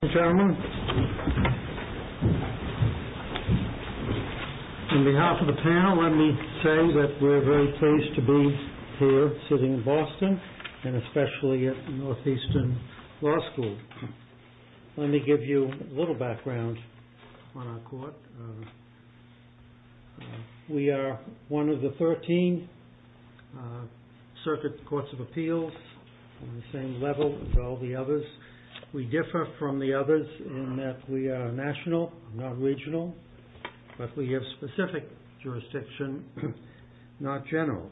In behalf of the panel, let me say that we're very pleased to be here sitting in Boston, and especially at Northeastern Law School. Let me give you a little background on our court. We are one of the 13 circuit courts of appeals on the same level as all the others. We differ from the others in that we are national, not regional, but we have specific jurisdiction, not general.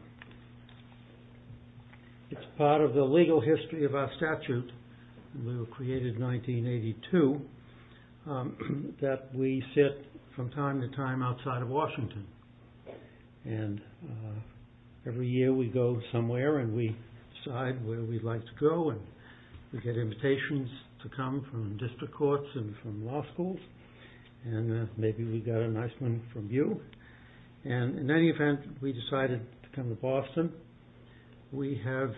It's part of the legal history of our statute, we were created in 1982, that we sit from time to time outside of Washington. Every year we go somewhere and we decide where we'd like to go. We get invitations to come from district courts and from law schools, and maybe we got a nice one from you. In any event, we decided to come to Boston. We have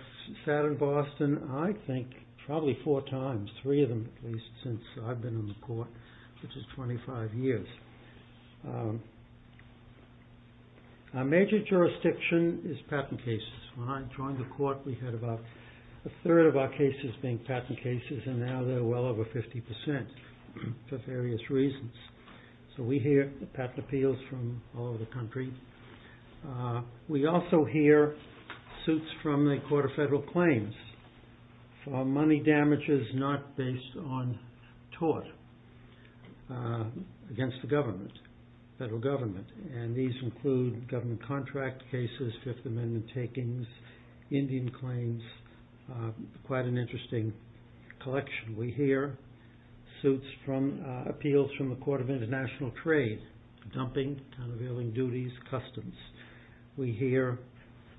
sat in Boston, I think, probably four times, three of them at least, since I've been in the court, which is 25 years. Our major jurisdiction is patent cases. When I joined the court, we had about a third of our cases being patent cases, and now they're well over 50% for various reasons. So we hear patent appeals from all over the country. We also hear suits from the Court of Federal Claims for money damages not based on tort against the government, federal government. These include government contract cases, Fifth Amendment takings, Indian claims, quite an interesting collection. We hear suits from appeals from the Court of International Trade, dumping, countervailing duties, customs. We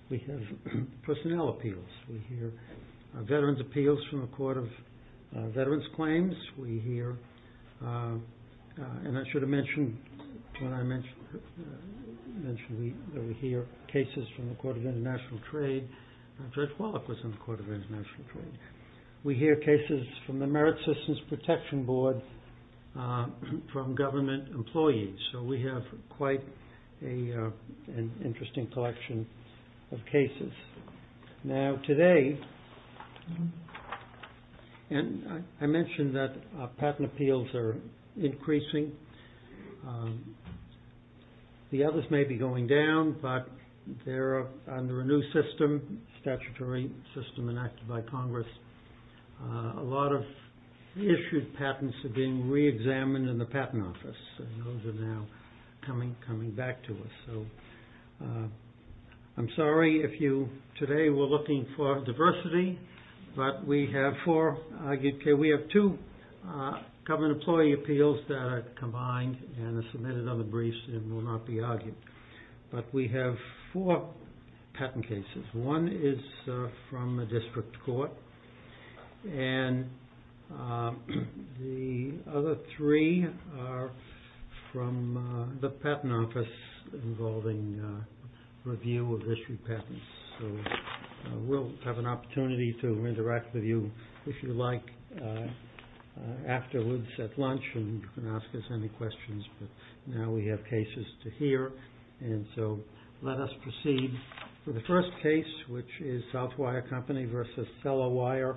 have personnel appeals. We hear veterans appeals from the Court of Veterans Claims. We hear, and I should have mentioned when I mentioned that we hear cases from the Court of International Trade, Judge Wallach was in the Court of International Trade. We hear cases from the Merit Systems Protection Board from government employees. So we have quite an interesting collection of cases. Now today, and I mentioned that patent appeals are increasing. The others may be going down, but they're under a new system, statutory system enacted by Congress. A lot of issued patents are being re-examined in the Patent Office. Those are now coming back to us. I'm sorry if today we're looking for diversity, but we have two government employee appeals that are combined and are submitted on the briefs and will not be argued. But we have four patent cases. One is from the District Court, and the other three are from the Patent Office involving review of issued patents. We'll have an opportunity to interact with you, if you like, afterwards at lunch, and you can ask us any questions. Now we have cases to hear, and so let us proceed. The first case, which is Southwire Company v. Sellawire,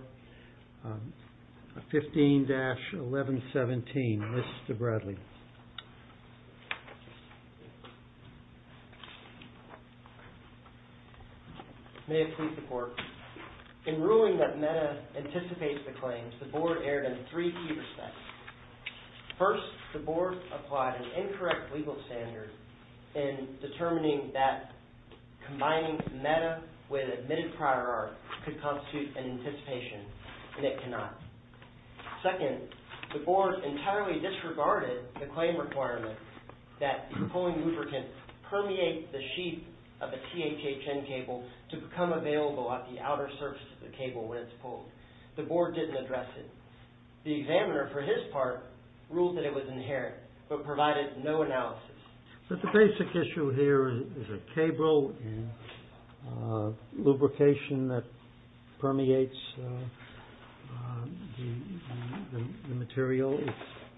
15-1117, Mr. Bradley. May it please the Court. In ruling that META anticipates the claims, the Board erred in three key respects. First, the Board applied an incorrect legal standard in determining that combining META with admitted prior art could constitute an anticipation, and it cannot. Second, the Board entirely disregarded the claim requirement that the pulling lubricant permeate the sheath of a THHN cable to become available at the outer surface of the cable when it's pulled. The Board didn't address it. The examiner, for his part, ruled that it was inherent, but provided no analysis. But the basic issue here is a cable and lubrication that permeates the material. It's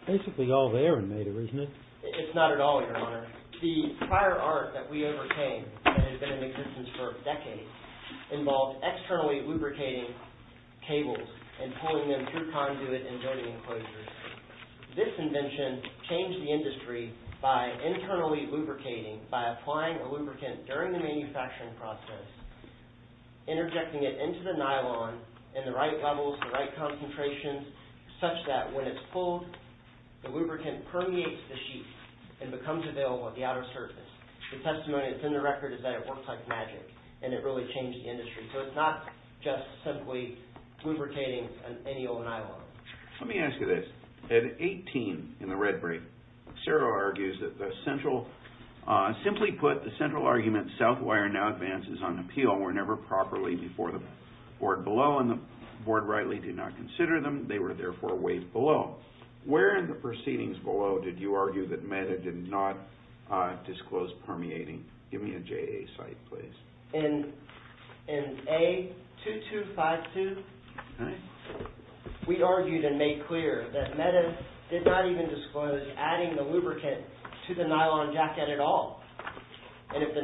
basically all there in META, isn't it? It's not at all, Your Honor. The prior art that we overcame, that had been in existence for decades, involved externally lubricating cables and pulling them through conduit and joint enclosures. This invention changed the industry by internally lubricating by applying a lubricant during the manufacturing process, interjecting it into the nylon in the right levels, the right concentrations, such that when it's pulled, the lubricant permeates the sheath and becomes available at the outer surface. The testimony that's in the record is that it works like magic, and it really changed the industry. So, it's not just simply lubricating any old nylon. Let me ask you this. At 18, in the red brief, Sero argues that the central... Where in the proceedings below did you argue that META did not disclose permeating? Give me a JA site, please. In A2252, we argued and made clear that META did not even disclose adding the lubricant to the nylon jacket at all. And if the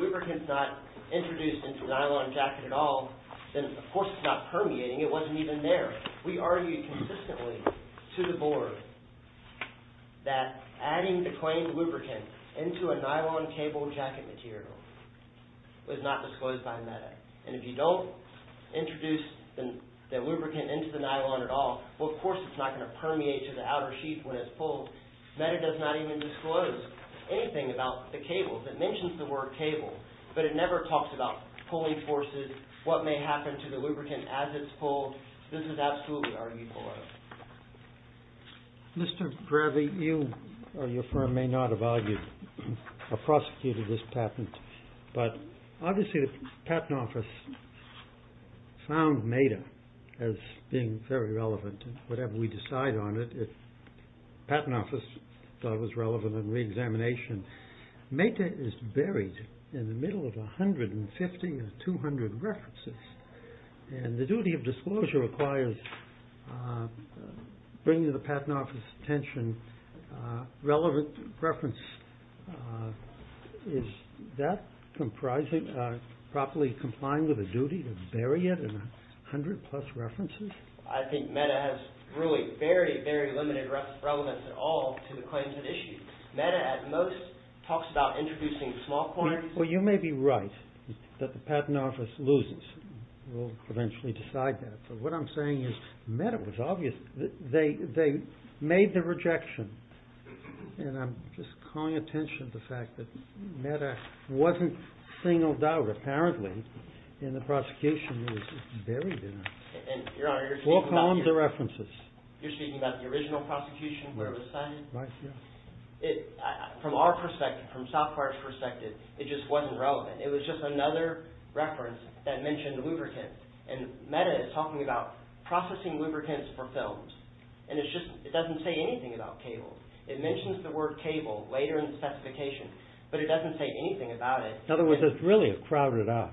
lubricant's not introduced into the nylon jacket at all, then of course it's not permeating. It wasn't even there. We argued consistently to the board that adding the claimed lubricant into a nylon cable jacket material was not disclosed by META. And if you don't introduce the lubricant into the nylon at all, well, of course it's not going to permeate to the outer sheath when it's pulled. META does not even disclose anything about the cable. It mentions the word cable, but it never talks about pulling forces, what may happen to the lubricant as it's pulled. This is absolutely arguable. Mr. Gravey, you or your firm may not have argued or prosecuted this patent, but obviously the Patent Office found META as being very relevant. Whatever we decide on it, the Patent Office thought it was relevant in reexamination. META is buried in the middle of 150 to 200 references, and the duty of disclosure requires bringing to the Patent Office's attention relevant reference. Is that properly complying with the duty to bury it in 100 plus references? I think META has really very, very limited relevance at all to the claims at issue. META, at most, talks about introducing small points. Well, you may be right that the Patent Office loses. We'll eventually decide that. But what I'm saying is META was obvious. They made the rejection, and I'm just calling attention to the fact that META wasn't singled out, apparently, and the prosecution was buried in it. Four columns of references. You're speaking about the original prosecution where it was cited? Right, yes. From our perspective, from South Park's perspective, it just wasn't relevant. It was just another reference that mentioned lubricants, and META is talking about processing lubricants for films, and it doesn't say anything about cables. It mentions the word cable later in the specification, but it doesn't say anything about it. In other words, it's really a crowded art.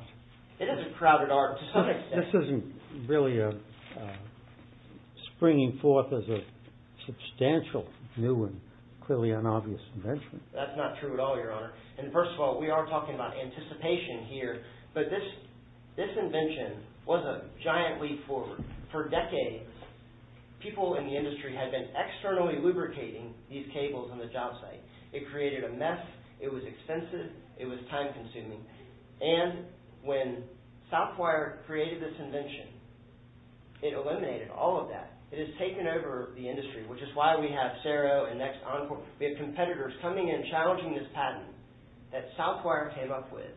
It is a crowded art to some extent. This isn't really springing forth as a substantial new and clearly unobvious invention. That's not true at all, Your Honor. And first of all, we are talking about anticipation here, but this invention was a giant leap forward. For decades, people in the industry had been externally lubricating these cables on the job site. It created a mess. It was expensive. It was time-consuming. And when Southwire created this invention, it eliminated all of that. It has taken over the industry, which is why we have CERO and Next Encore. We have competitors coming in, challenging this patent that Southwire came up with,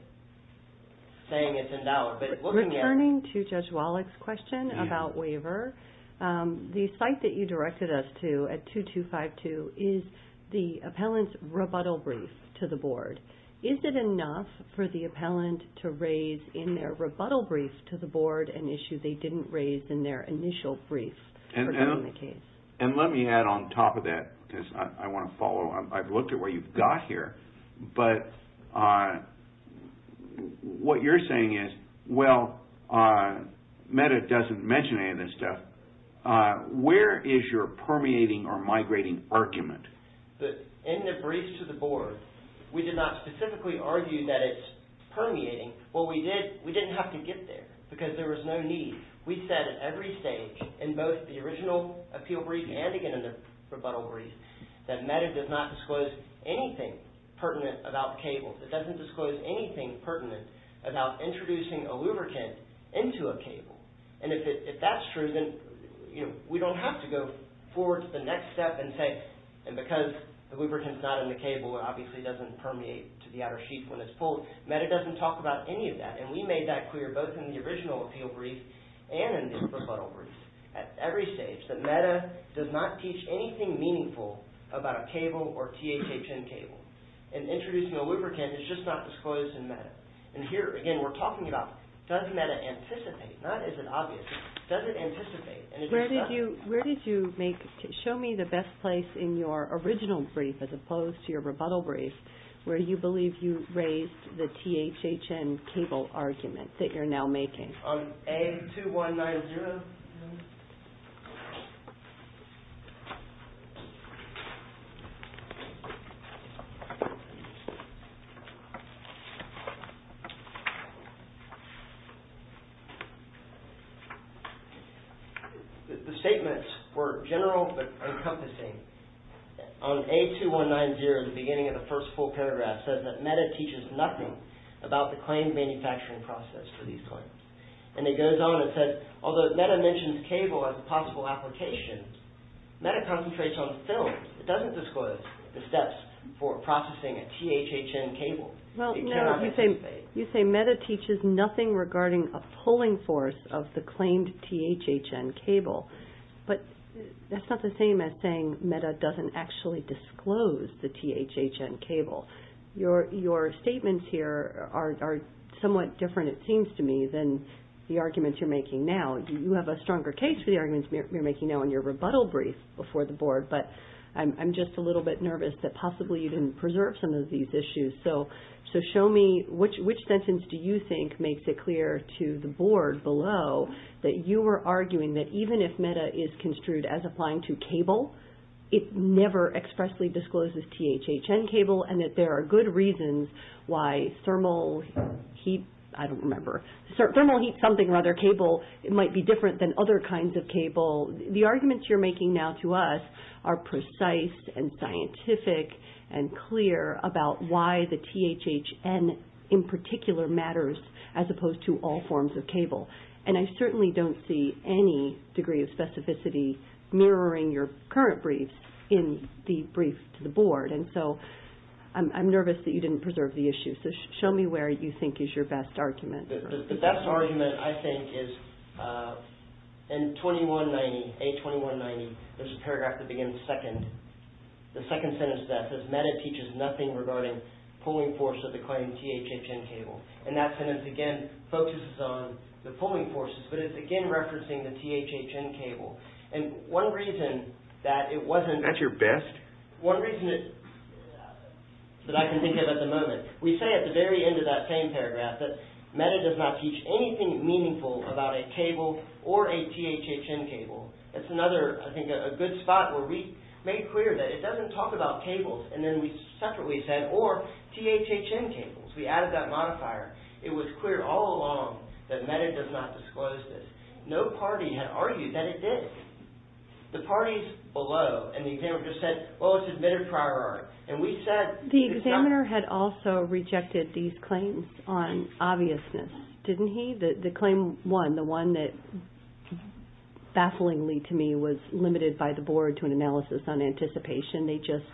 saying it's in dollar. Returning to Judge Wallach's question about waiver, the site that you directed us to at 2252 is the appellant's rebuttal brief to the board. Is it enough for the appellant to raise, in their rebuttal brief to the board, an issue they didn't raise in their initial brief regarding the case? And let me add on top of that, because I want to follow. I've looked at what you've got here. But what you're saying is, well, Meta doesn't mention any of this stuff. Where is your permeating or migrating argument? In the brief to the board, we did not specifically argue that it's permeating. What we did, we didn't have to get there, because there was no need. We said at every stage, in both the original appeal brief and again in the rebuttal brief, that Meta does not disclose anything pertinent about cables. It doesn't disclose anything pertinent about introducing a lubricant into a cable. And if that's true, then we don't have to go forward to the next step and say, and because the lubricant's not in the cable, it obviously doesn't permeate to the outer sheet when it's pulled. Meta doesn't talk about any of that. And we made that clear both in the original appeal brief and in the rebuttal brief. At every stage, that Meta does not teach anything meaningful about a cable or THHN cable. And introducing a lubricant is just not disclosed in Meta. And here, again, we're talking about does Meta anticipate, not is it obvious, does it anticipate? Where did you make, show me the best place in your original brief as opposed to your rebuttal brief where you believe you raised the THHN cable argument that you're now making. On A2190, the statements were general but encompassing. On A2190, the beginning of the first full paragraph says that Meta teaches nothing about the claim manufacturing process for these claims. And it goes on and says, although Meta mentions cable as a possible application, Meta concentrates on film. It doesn't disclose the steps for processing a THHN cable. It cannot anticipate. Well, you say Meta teaches nothing regarding a pulling force of the claimed THHN cable. But that's not the same as saying Meta doesn't actually disclose the THHN cable. Your statements here are somewhat different, it seems to me, than the arguments you're making now. You have a stronger case for the arguments you're making now in your rebuttal brief before the Board. But I'm just a little bit nervous that possibly you didn't preserve some of these issues. So show me which sentence do you think makes it clear to the Board below that you were arguing that even if Meta is construed as applying to cable, it never expressly discloses THHN cable and that there are good reasons why thermal heat, I don't remember, thermal heat something or other cable might be different than other kinds of cable. The arguments you're making now to us are precise and scientific and clear about why the THHN in particular matters as opposed to all forms of cable. And I certainly don't see any degree of specificity mirroring your current briefs in the brief to the Board. And so I'm nervous that you didn't preserve the issues. So show me where you think is your best argument. The best argument I think is in 2190, A2190, there's a paragraph that begins second. The second sentence of that says, Meta teaches nothing regarding pulling force of the claimed THHN cable. And that sentence again focuses on the pulling forces, but it's again referencing the THHN cable. And one reason that it wasn't... That's your best? One reason that I can think of at the moment. We say at the very end of that same paragraph that Meta does not teach anything meaningful about a cable or a THHN cable. It's another, I think, a good spot where we made clear that it doesn't talk about cables. And then we separately said, or THHN cables. We added that modifier. It was clear all along that Meta does not disclose this. No party had argued that it did. The parties below and the examiner just said, well, it's admitted prior art. And we said... The examiner had also rejected these claims on obviousness, didn't he? The claim one, the one that bafflingly to me was limited by the Board to an analysis on anticipation. They just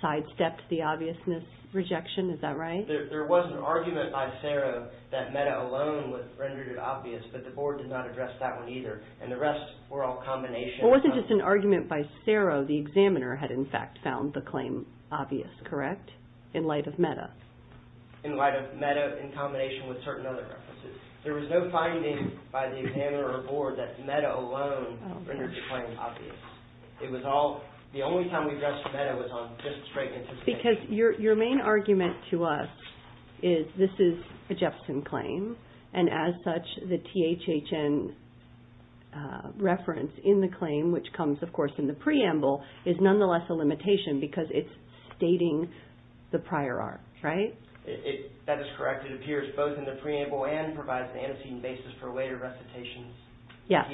sidestepped the obviousness rejection, is that right? There was an argument by CERO that Meta alone rendered it obvious, but the Board did not address that one either. And the rest were all combinations. It wasn't just an argument by CERO. The examiner had, in fact, found the claim obvious, correct, in light of Meta? In light of Meta in combination with certain other references. There was no finding by the examiner or Board that Meta alone rendered the claim obvious. It was all... The only time we addressed Meta was on just straight anticipation. Because your main argument to us is this is a Jepson claim. And as such, the THHN reference in the claim, which comes, of course, in the preamble, is nonetheless a limitation because it's stating the prior art, right? That is correct. It appears both in the preamble and provides the antecedent basis for later recitations. Yeah,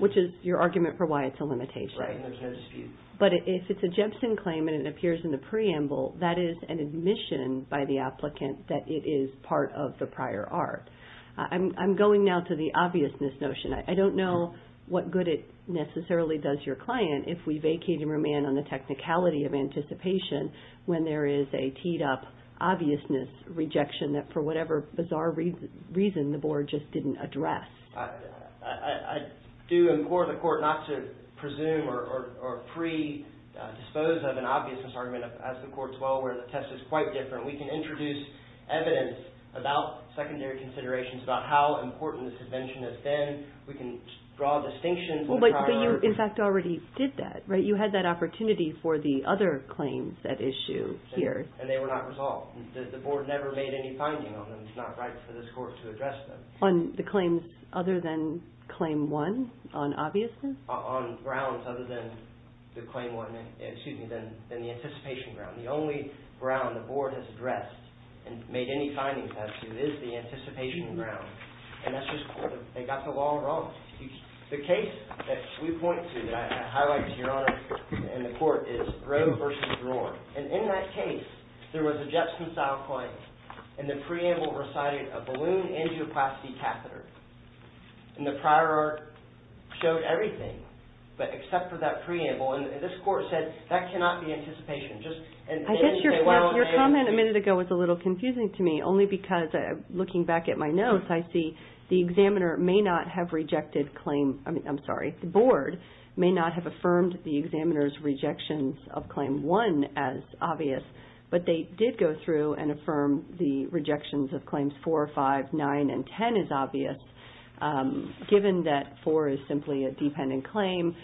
which is your argument for why it's a limitation. Right, and there's no dispute. But if it's a Jepson claim and it appears in the preamble, that is an admission by the applicant that it is part of the prior art. I'm going now to the obviousness notion. I don't know what good it necessarily does your client if we vacate and remain on the technicality of anticipation when there is a teed-up obviousness rejection that, for whatever bizarre reason, the Board just didn't address. I do implore the Court not to presume or predispose of an obviousness argument, as the Court's well aware the test is quite different. We can introduce evidence about secondary considerations, about how important this invention has been. We can draw distinctions on the prior art. But you, in fact, already did that, right? You had that opportunity for the other claims at issue here. And they were not resolved. The Board never made any finding on them. It's not right for this Court to address them. On the claims other than Claim 1 on obviousness? On grounds other than the Anticipation Ground. The only ground the Board has addressed and made any findings as to is the Anticipation Ground. And that's just because they got the law wrong. The case that we point to, that I highlight to your Honor and the Court, is Roe v. Roe. And in that case, there was a Jetson-style claim. And the preamble recited a balloon angioplasty catheter. And the prior art showed everything, but except for that preamble. And this Court said, that cannot be anticipation. I guess your comment a minute ago was a little confusing to me. Only because, looking back at my notes, I see the Examiner may not have rejected Claim... But they did go through and affirm the rejections of Claims 4, 5, 9, and 10 as obvious. Given that 4 is simply a dependent claim,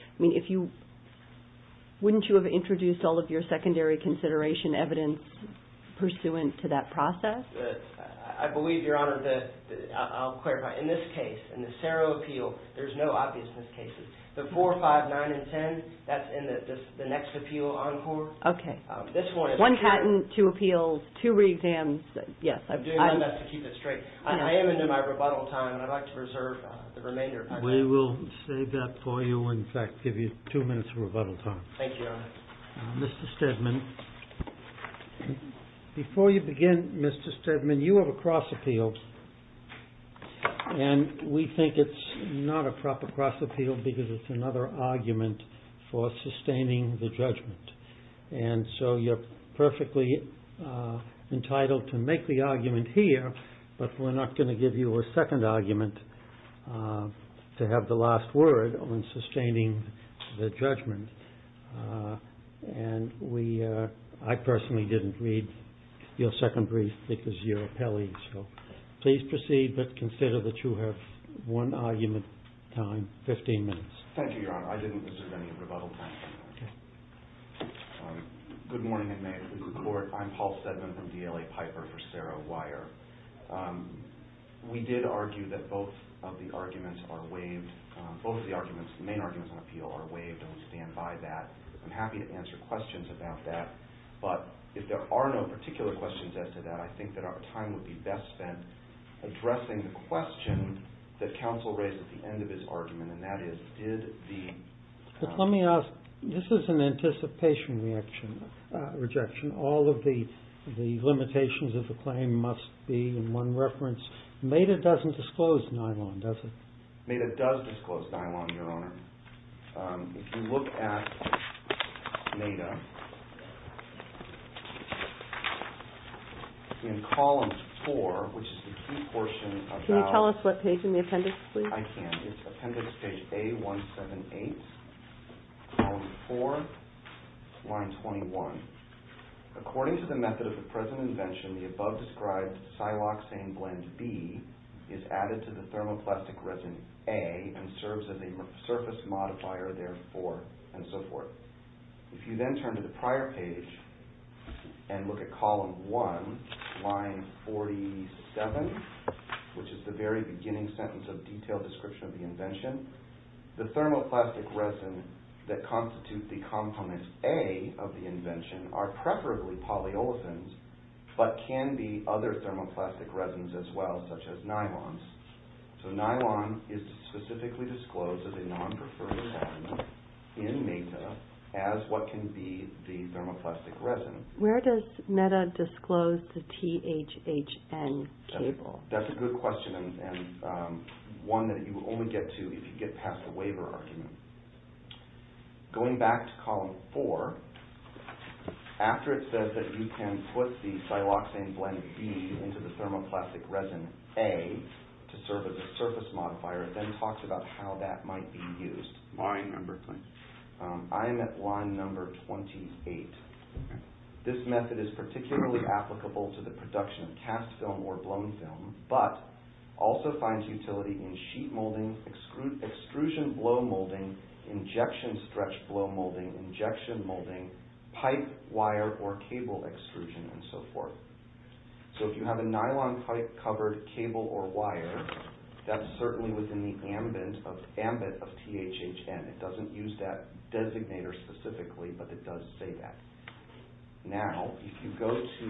wouldn't you have introduced all of your secondary consideration evidence pursuant to that process? I believe, your Honor, that I'll clarify. In this case, in the Serial Appeal, there's no obviousness cases. The 4, 5, 9, and 10, that's in the next Appeal Encore. Okay. One patent, two appeals, two re-exams. Yes. I'm doing my best to keep it straight. I am in my rebuttal time, and I'd like to reserve the remainder of my time. We will save that for you and, in fact, give you two minutes of rebuttal time. Thank you, Your Honor. Mr. Stedman. Before you begin, Mr. Stedman, you have a cross appeal. And we think it's not a proper cross appeal because it's another argument for sustaining the judgment. And so you're perfectly entitled to make the argument here, but we're not going to give you a second argument to have the last word on sustaining the judgment. And I personally didn't read your second brief because you're appellee. So please proceed, but consider that you have one argument time, 15 minutes. Thank you, Your Honor. I didn't reserve any rebuttal time. Okay. Good morning, and may it please the Court. I'm Paul Stedman from DLA Piper for Serowire. We did argue that both of the arguments are waived. Both of the arguments, the main arguments on appeal, are waived. Don't stand by that. I'm happy to answer questions about that, but if there are no particular questions as to that, I think that our time would be best spent addressing the question that counsel raised at the end of his argument, and that is, did the… Let me ask. This is an anticipation rejection. All of the limitations of the claim must be in one reference. MEDA doesn't disclose Nylon, does it? MEDA does disclose Nylon, Your Honor. If you look at MEDA, in column 4, which is the key portion about… Can you tell us what page in the appendix, please? I can. It's appendix page A178, column 4, line 21. According to the method of the present invention, the above-described siloxane blend B is added to the thermoplastic resin A and serves as a surface modifier, therefore, and so forth. If you then turn to the prior page and look at column 1, line 47, which is the very beginning sentence of detailed description of the invention, the thermoplastic resin that constitute the component A of the invention are preferably polyolefins, but can be other thermoplastic resins as well, such as Nylons. So, Nylon is specifically disclosed as a non-preferred compound in MEDA as what can be the thermoplastic resin. Where does MEDA disclose the THHN cable? That's a good question and one that you only get to if you get past the waiver argument. Going back to column 4, after it says that you can put the siloxane blend B into the thermoplastic resin A to serve as a surface modifier, it then talks about how that might be used. Line number 28. This method is particularly applicable to the production of cast film or blown film, but also finds utility in sheet molding, extrusion blow molding, injection stretch blow molding, injection molding, pipe, wire, or cable extrusion and so forth. So, if you have a nylon pipe covered cable or wire, that's certainly within the ambit of THHN. It doesn't use that designator specifically, but it does say that. Now, if you go to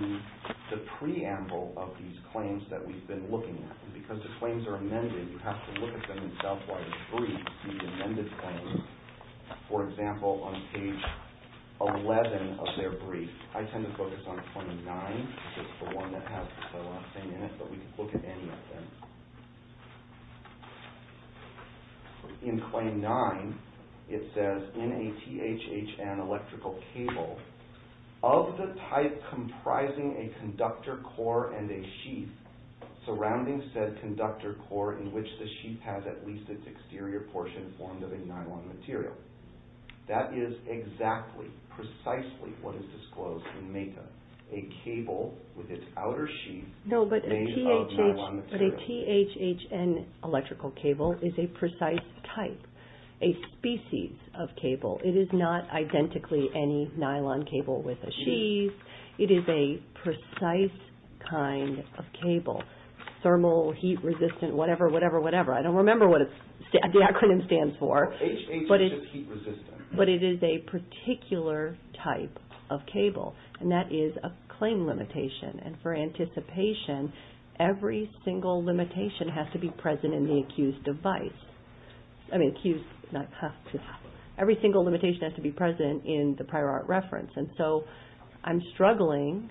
the preamble of these claims that we've been looking at, because the claims are amended, you have to look at them yourself while you read the amended claims. For example, on page 11 of their brief, I tend to focus on claim 9, which is the one that has the siloxane in it, but we can look at any of them. In claim 9, it says, in a THHN electrical cable, of the type comprising a conductor core and a sheath surrounding said conductor core in which the sheath has at least its exterior portion formed of a nylon material. That is exactly, precisely what is disclosed in MAKA, a cable with its outer sheath made of nylon material. But a THHN electrical cable is a precise type, a species of cable. It is not identically any nylon cable with a sheath. It is a precise kind of cable, thermal, heat resistant, whatever, whatever, whatever. I don't remember what the acronym stands for. But it is a particular type of cable, and that is a claim limitation, and for anticipation, every single limitation has to be present in the accused device. I mean, accused, not accused. Every single limitation has to be present in the prior art reference, and so I'm struggling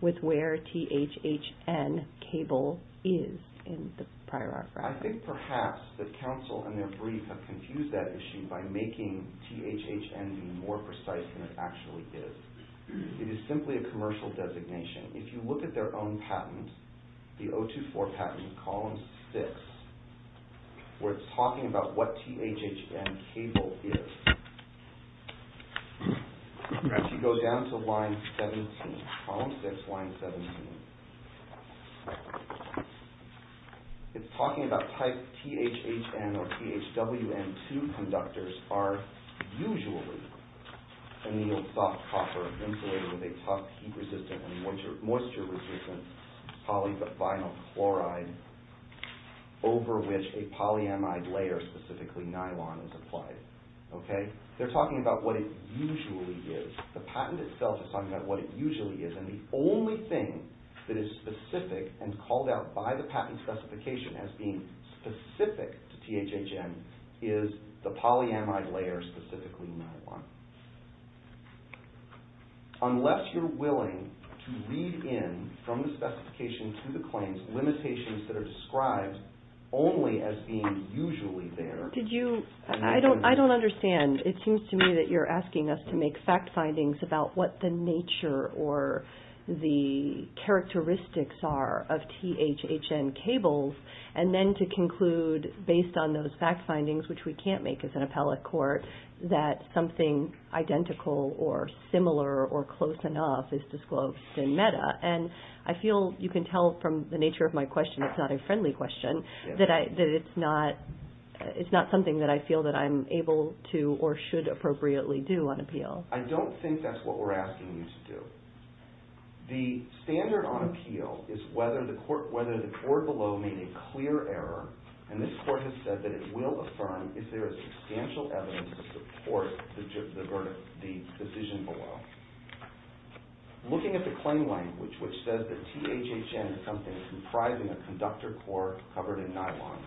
with where THHN cable is in the prior art reference. I think perhaps that counsel and their brief have confused that issue by making THHN be more precise than it actually is. It is simply a commercial designation. If you look at their own patent, the 024 patent, column 6, where it's talking about what THHN cable is, if you go down to line 17, column 6, line 17, it's talking about type THHN or THWN2 conductors are usually a soft copper insulated with a tough, heat resistant, moisture resistant polyvinyl chloride over which a polyamide layer, specifically nylon, is applied. They're talking about what it usually is. The patent itself is talking about what it usually is, and the only thing that is specific and called out by the patent specification as being specific to THHN is the polyamide layer, specifically nylon. Unless you're willing to read in from the specification to the claims limitations that are described only as being usually there. I don't understand. It seems to me that you're asking us to make fact findings about what the nature or the characteristics are of THHN cables, and then to conclude based on those fact findings, which we can't make as an appellate court, that something identical or similar or close enough is disclosed in MEDA. I feel you can tell from the nature of my question, it's not a friendly question, that it's not something that I feel that I'm able to or should appropriately do on appeal. I don't think that's what we're asking you to do. The standard on appeal is whether the court below made a clear error, and this court has said that it will affirm if there is substantial evidence to support the decision below. Looking at the claim language, which says that THHN is something comprising a conductor core covered in nylon,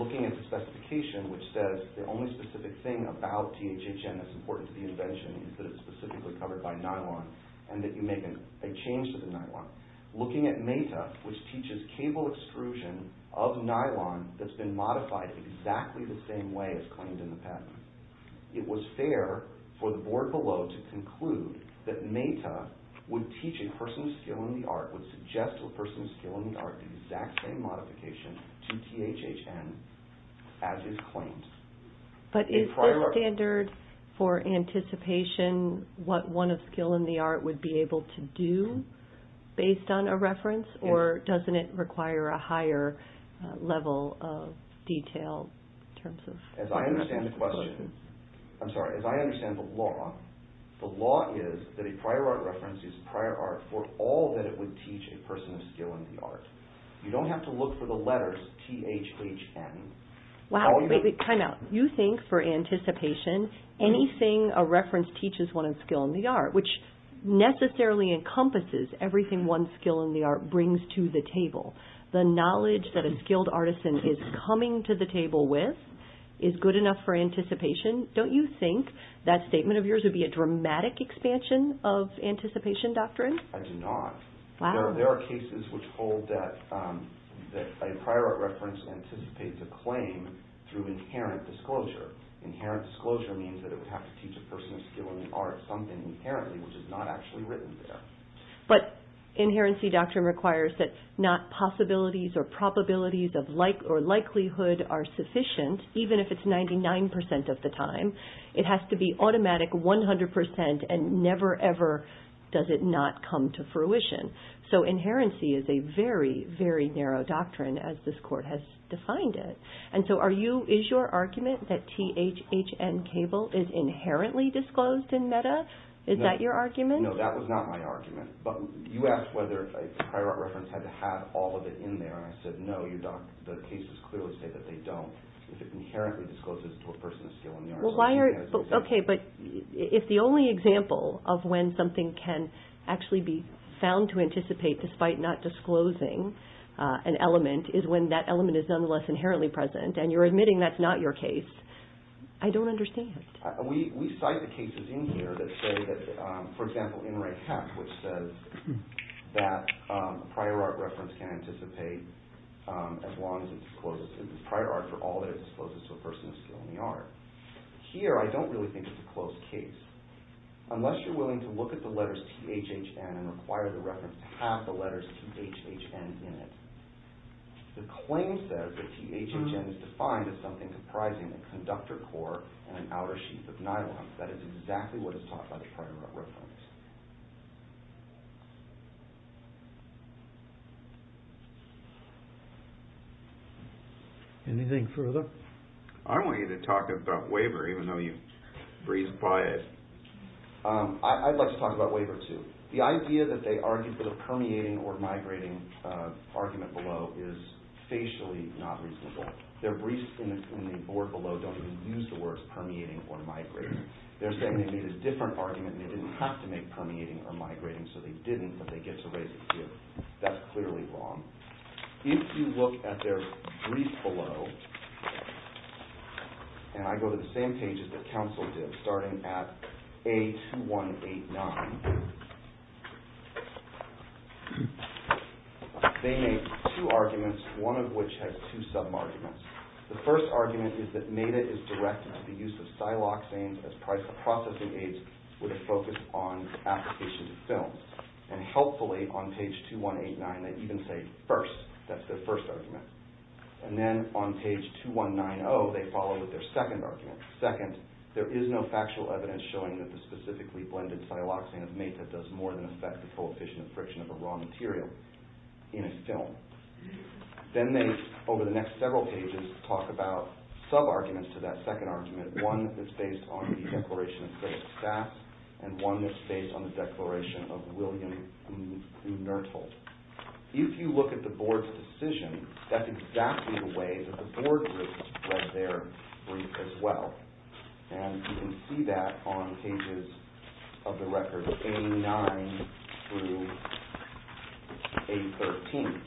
looking at the specification which says the only specific thing about THHN that's important to the invention is that it's specifically covered by nylon, and that you make a change to the nylon, looking at MEDA, which teaches cable extrusion of nylon that's been modified exactly the same way as claimed in the patent, it was fair for the board below to conclude that MEDA would teach a person of skill in the art, would suggest to a person of skill in the art, the exact same modification to THHN as is claimed. But is the standard for anticipation what one of skill in the art would be able to do based on a reference, or doesn't it require a higher level of detail in terms of... As I understand the question, I'm sorry, as I understand the law, the law is that a prior art reference is prior art for all that it would teach a person of skill in the art. You don't have to look for the letters THHN. Wow, time out. You think for anticipation, anything a reference teaches one of skill in the art, which necessarily encompasses everything one's skill in the art brings to the table. The knowledge that a skilled artisan is coming to the table with is good enough for anticipation. Don't you think that statement of yours would be a dramatic expansion of anticipation doctrine? I do not. Wow. There are cases which hold that a prior art reference anticipates a claim through inherent disclosure. Inherent disclosure means that it would have to teach a person of skill in the art something inherently which is not actually written there. Inherency doctrine requires that not possibilities or probabilities or likelihood are sufficient even if it's 99% of the time. It has to be automatic 100% and never, ever does it not come to fruition. Inherency is a very, very narrow doctrine as this court has defined it. Is your argument that THHN cable is inherently disclosed in meta? Is that your argument? No, that was not my argument. You asked whether a prior art reference had to have all of it in there. I said no. The cases clearly say that they don't. If it inherently discloses to a person of skill in the art. Okay, but if the only example of when something can actually be found to anticipate despite not disclosing an element is when that element is nonetheless inherently present and you're admitting that's not your case, I don't understand. We cite the cases in here that say that, for example, which says that prior art reference can anticipate as long as it's disclosed. It's prior art for all that it discloses to a person of skill in the art. Here I don't really think it's a closed case. Unless you're willing to look at the letters THHN and require the reference to have the letters THHN in it. The claim says that THHN is defined as something comprising a conductor core and an outer sheet of nylon. That is exactly what is taught by the prior art reference. Anything further? I want you to talk about waiver even though you breathe quiet. I'd like to talk about waiver too. The idea that they argued for the permeating or migrating argument below is facially not reasonable. Their briefs in the board below don't even use the words permeating or migrating. They're saying they made a different argument and they didn't have to make permeating or migrating so they didn't but they get to raise it here. That's clearly wrong. If you look at their brief below and I go to the same page as the council did starting at A2189. They made two arguments, one of which has two sub-arguments. The first argument is that MEDA is direct in the use of siloxanes as processing aids with a focus on application to films. Helpfully on page 2189 they even say first, that's their first argument. Then on page 2190 they follow with their second argument. Second, there is no factual evidence showing that the specifically blended siloxane is made that does more than affect the coefficient of friction of a raw material in a film. Then they, over the next several pages, talk about sub-arguments to that second argument. One that's based on the Declaration of Civil Staff and one that's based on the Declaration of William W. Nertle. If you look at the board's decision, that's exactly the way that the board reads their brief as well. You can see that on pages of the record A9 through A13.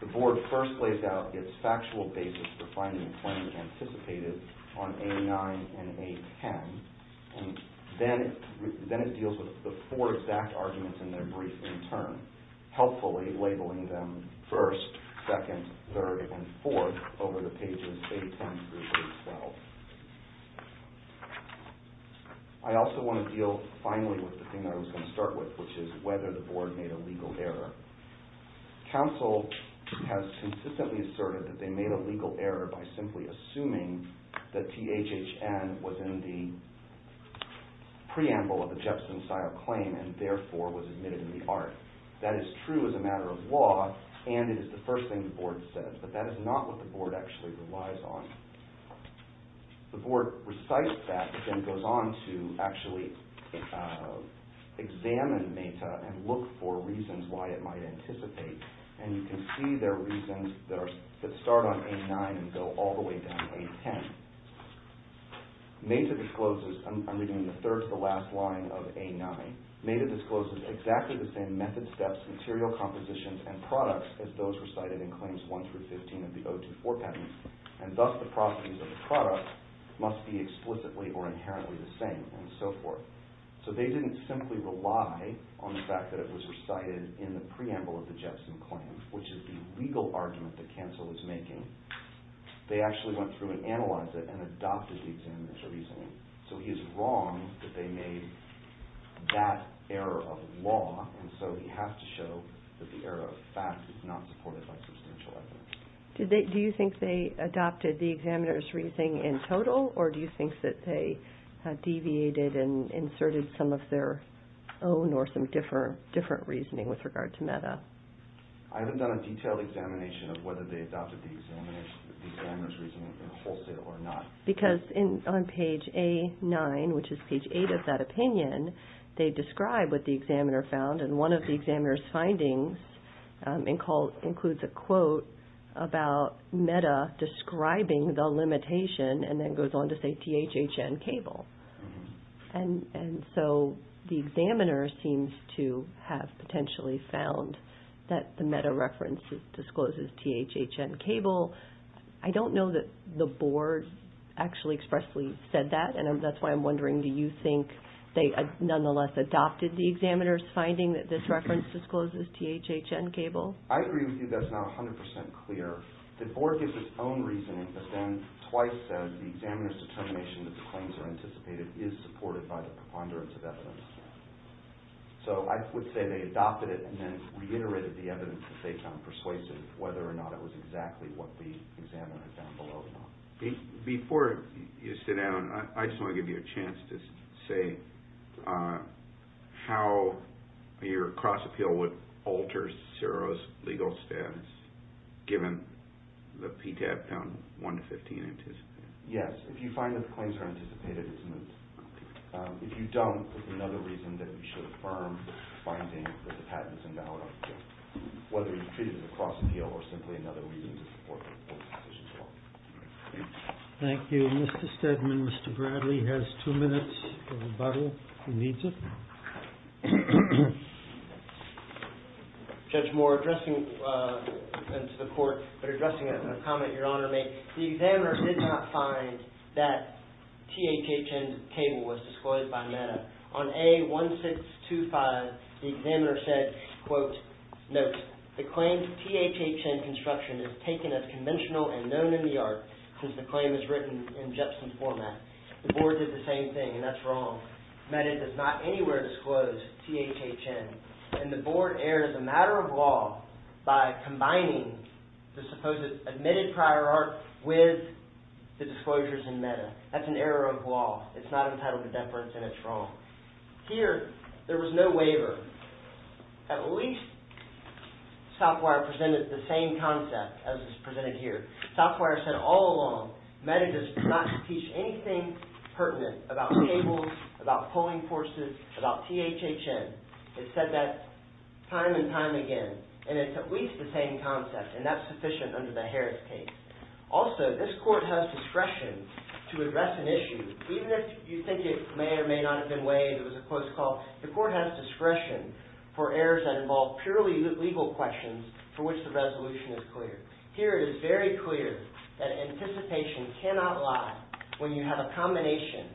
The board first lays out its factual basis for finding a claim anticipated on A9 and A10. Then it deals with the four exact arguments in their brief in turn. Helpfully labeling them first, second, third, and fourth over the pages A10 through A12. I also want to deal finally with the thing that I was going to start with, which is whether the board made a legal error. Counsel has consistently asserted that they made a legal error by simply assuming that THHN was in the preamble of the Jepson-style claim and therefore was admitted in the art. That is true as a matter of law and it is the first thing the board says. But that is not what the board actually relies on. The board recites that and then goes on to actually examine MATA and look for reasons why it might anticipate. You can see there are reasons that start on A9 and go all the way down to A10. MATA discloses, I'm reading the third to the last line of A9. MATA discloses exactly the same method steps, material compositions, and products as those recited in Claims 1 through 15 of the O2-4 patents. And thus the properties of the product must be explicitly or inherently the same and so forth. So they didn't simply rely on the fact that it was recited in the preamble of the Jepson claim, which is the legal argument that counsel is making. They actually went through and analyzed it and adopted the examiner's reasoning. So he is wrong that they made that error of law and so he has to show that the error of fact is not supported by substantial evidence. Do you think they adopted the examiner's reasoning in total or do you think that they deviated and inserted some of their own or some different reasoning with regard to MATA? I haven't done a detailed examination of whether they adopted the examiner's reasoning in wholesale or not. Because on page A9, which is page 8 of that opinion, they describe what the examiner found. And one of the examiner's findings includes a quote about MATA describing the limitation and then goes on to say THHN cable. And so the examiner seems to have potentially found that the MATA reference discloses THHN cable. I don't know that the board actually expressly said that. And that's why I'm wondering, do you think they nonetheless adopted the examiner's finding that this reference discloses THHN cable? I agree with you that's not 100% clear. The board gives its own reasoning, but then twice says the examiner's determination that the claims are anticipated is supported by the preponderance of evidence. So I would say they adopted it and then reiterated the evidence that they found persuasive, whether or not it was exactly what the examiner found below. Before you sit down, I just want to give you a chance to say how your cross-appeal would alter CERO's legal status, given the PTAB found 1 to 15 anticipated. Yes, if you find that the claims are anticipated, it's moot. If you don't, it's another reason that we should affirm the finding that the patent is invalid. Whether you treat it as a cross-appeal or simply another reason to support the board's decision. Thank you. Mr. Steadman, Mr. Bradley has two minutes for rebuttal. Who needs it? Judge Moore, addressing the court, but addressing a comment Your Honor made. The examiner did not find that THHN cable was disclosed by MATA. On A1625, the examiner said, quote, note, the claims THHN construction is taken as conventional and known in the art, since the claim is written in GEPSON format. The board did the same thing, and that's wrong. MATA does not anywhere disclose THHN, and the board errs a matter of law by combining the supposed admitted prior art with the disclosures in MATA. That's an error of law. It's not entitled to deference, and it's wrong. Here, there was no waiver. At least Southwire presented the same concept as is presented here. Southwire said all along, MATA does not teach anything pertinent about cables, about pulling forces, about THHN. It said that time and time again, and it's at least the same concept, and that's sufficient under the Harris case. Also, this court has discretion to address an issue, even if you think it may or may not have been waived. It was a close call. The court has discretion for errors that involve purely legal questions for which the resolution is clear. Here, it is very clear that anticipation cannot lie when you have a combination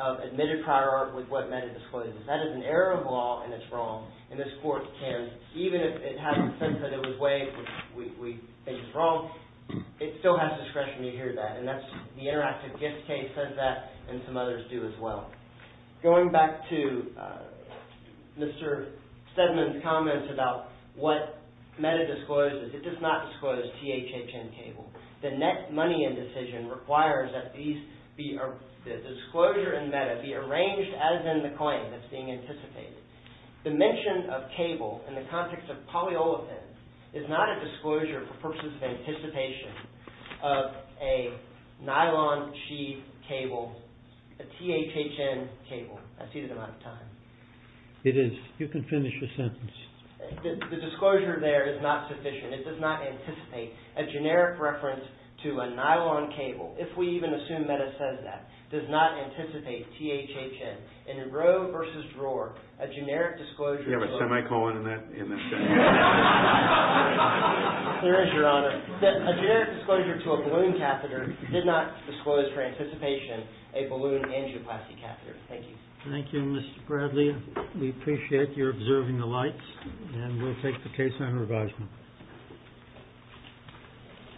of admitted prior art with what MATA discloses. That is an error of law, and it's wrong. This court can, even if it has the sense that it was waived, which we think is wrong, it still has discretion to hear that. The interactive gift case says that, and some others do as well. Going back to Mr. Sedman's comments about what MATA discloses, it does not disclose THHN cable. The net money in decision requires that the disclosure in MATA be arranged as in the claim that's being anticipated. The mention of cable in the context of polyolefin is not a disclosure for purposes of anticipation of a nylon sheave cable, a THHN cable. I see that I'm out of time. It is. You can finish your sentence. The disclosure there is not sufficient. It does not anticipate a generic reference to a nylon cable, if we even assume MATA says that. It does not anticipate THHN in a row versus drawer, a generic disclosure. Do you have a semicolon in that sentence? There is, Your Honor. A generic disclosure to a balloon catheter did not disclose for anticipation a balloon angioplasty catheter. Thank you. Thank you, Mr. Bradley. We appreciate your observing the lights, and we'll take the case on revisement.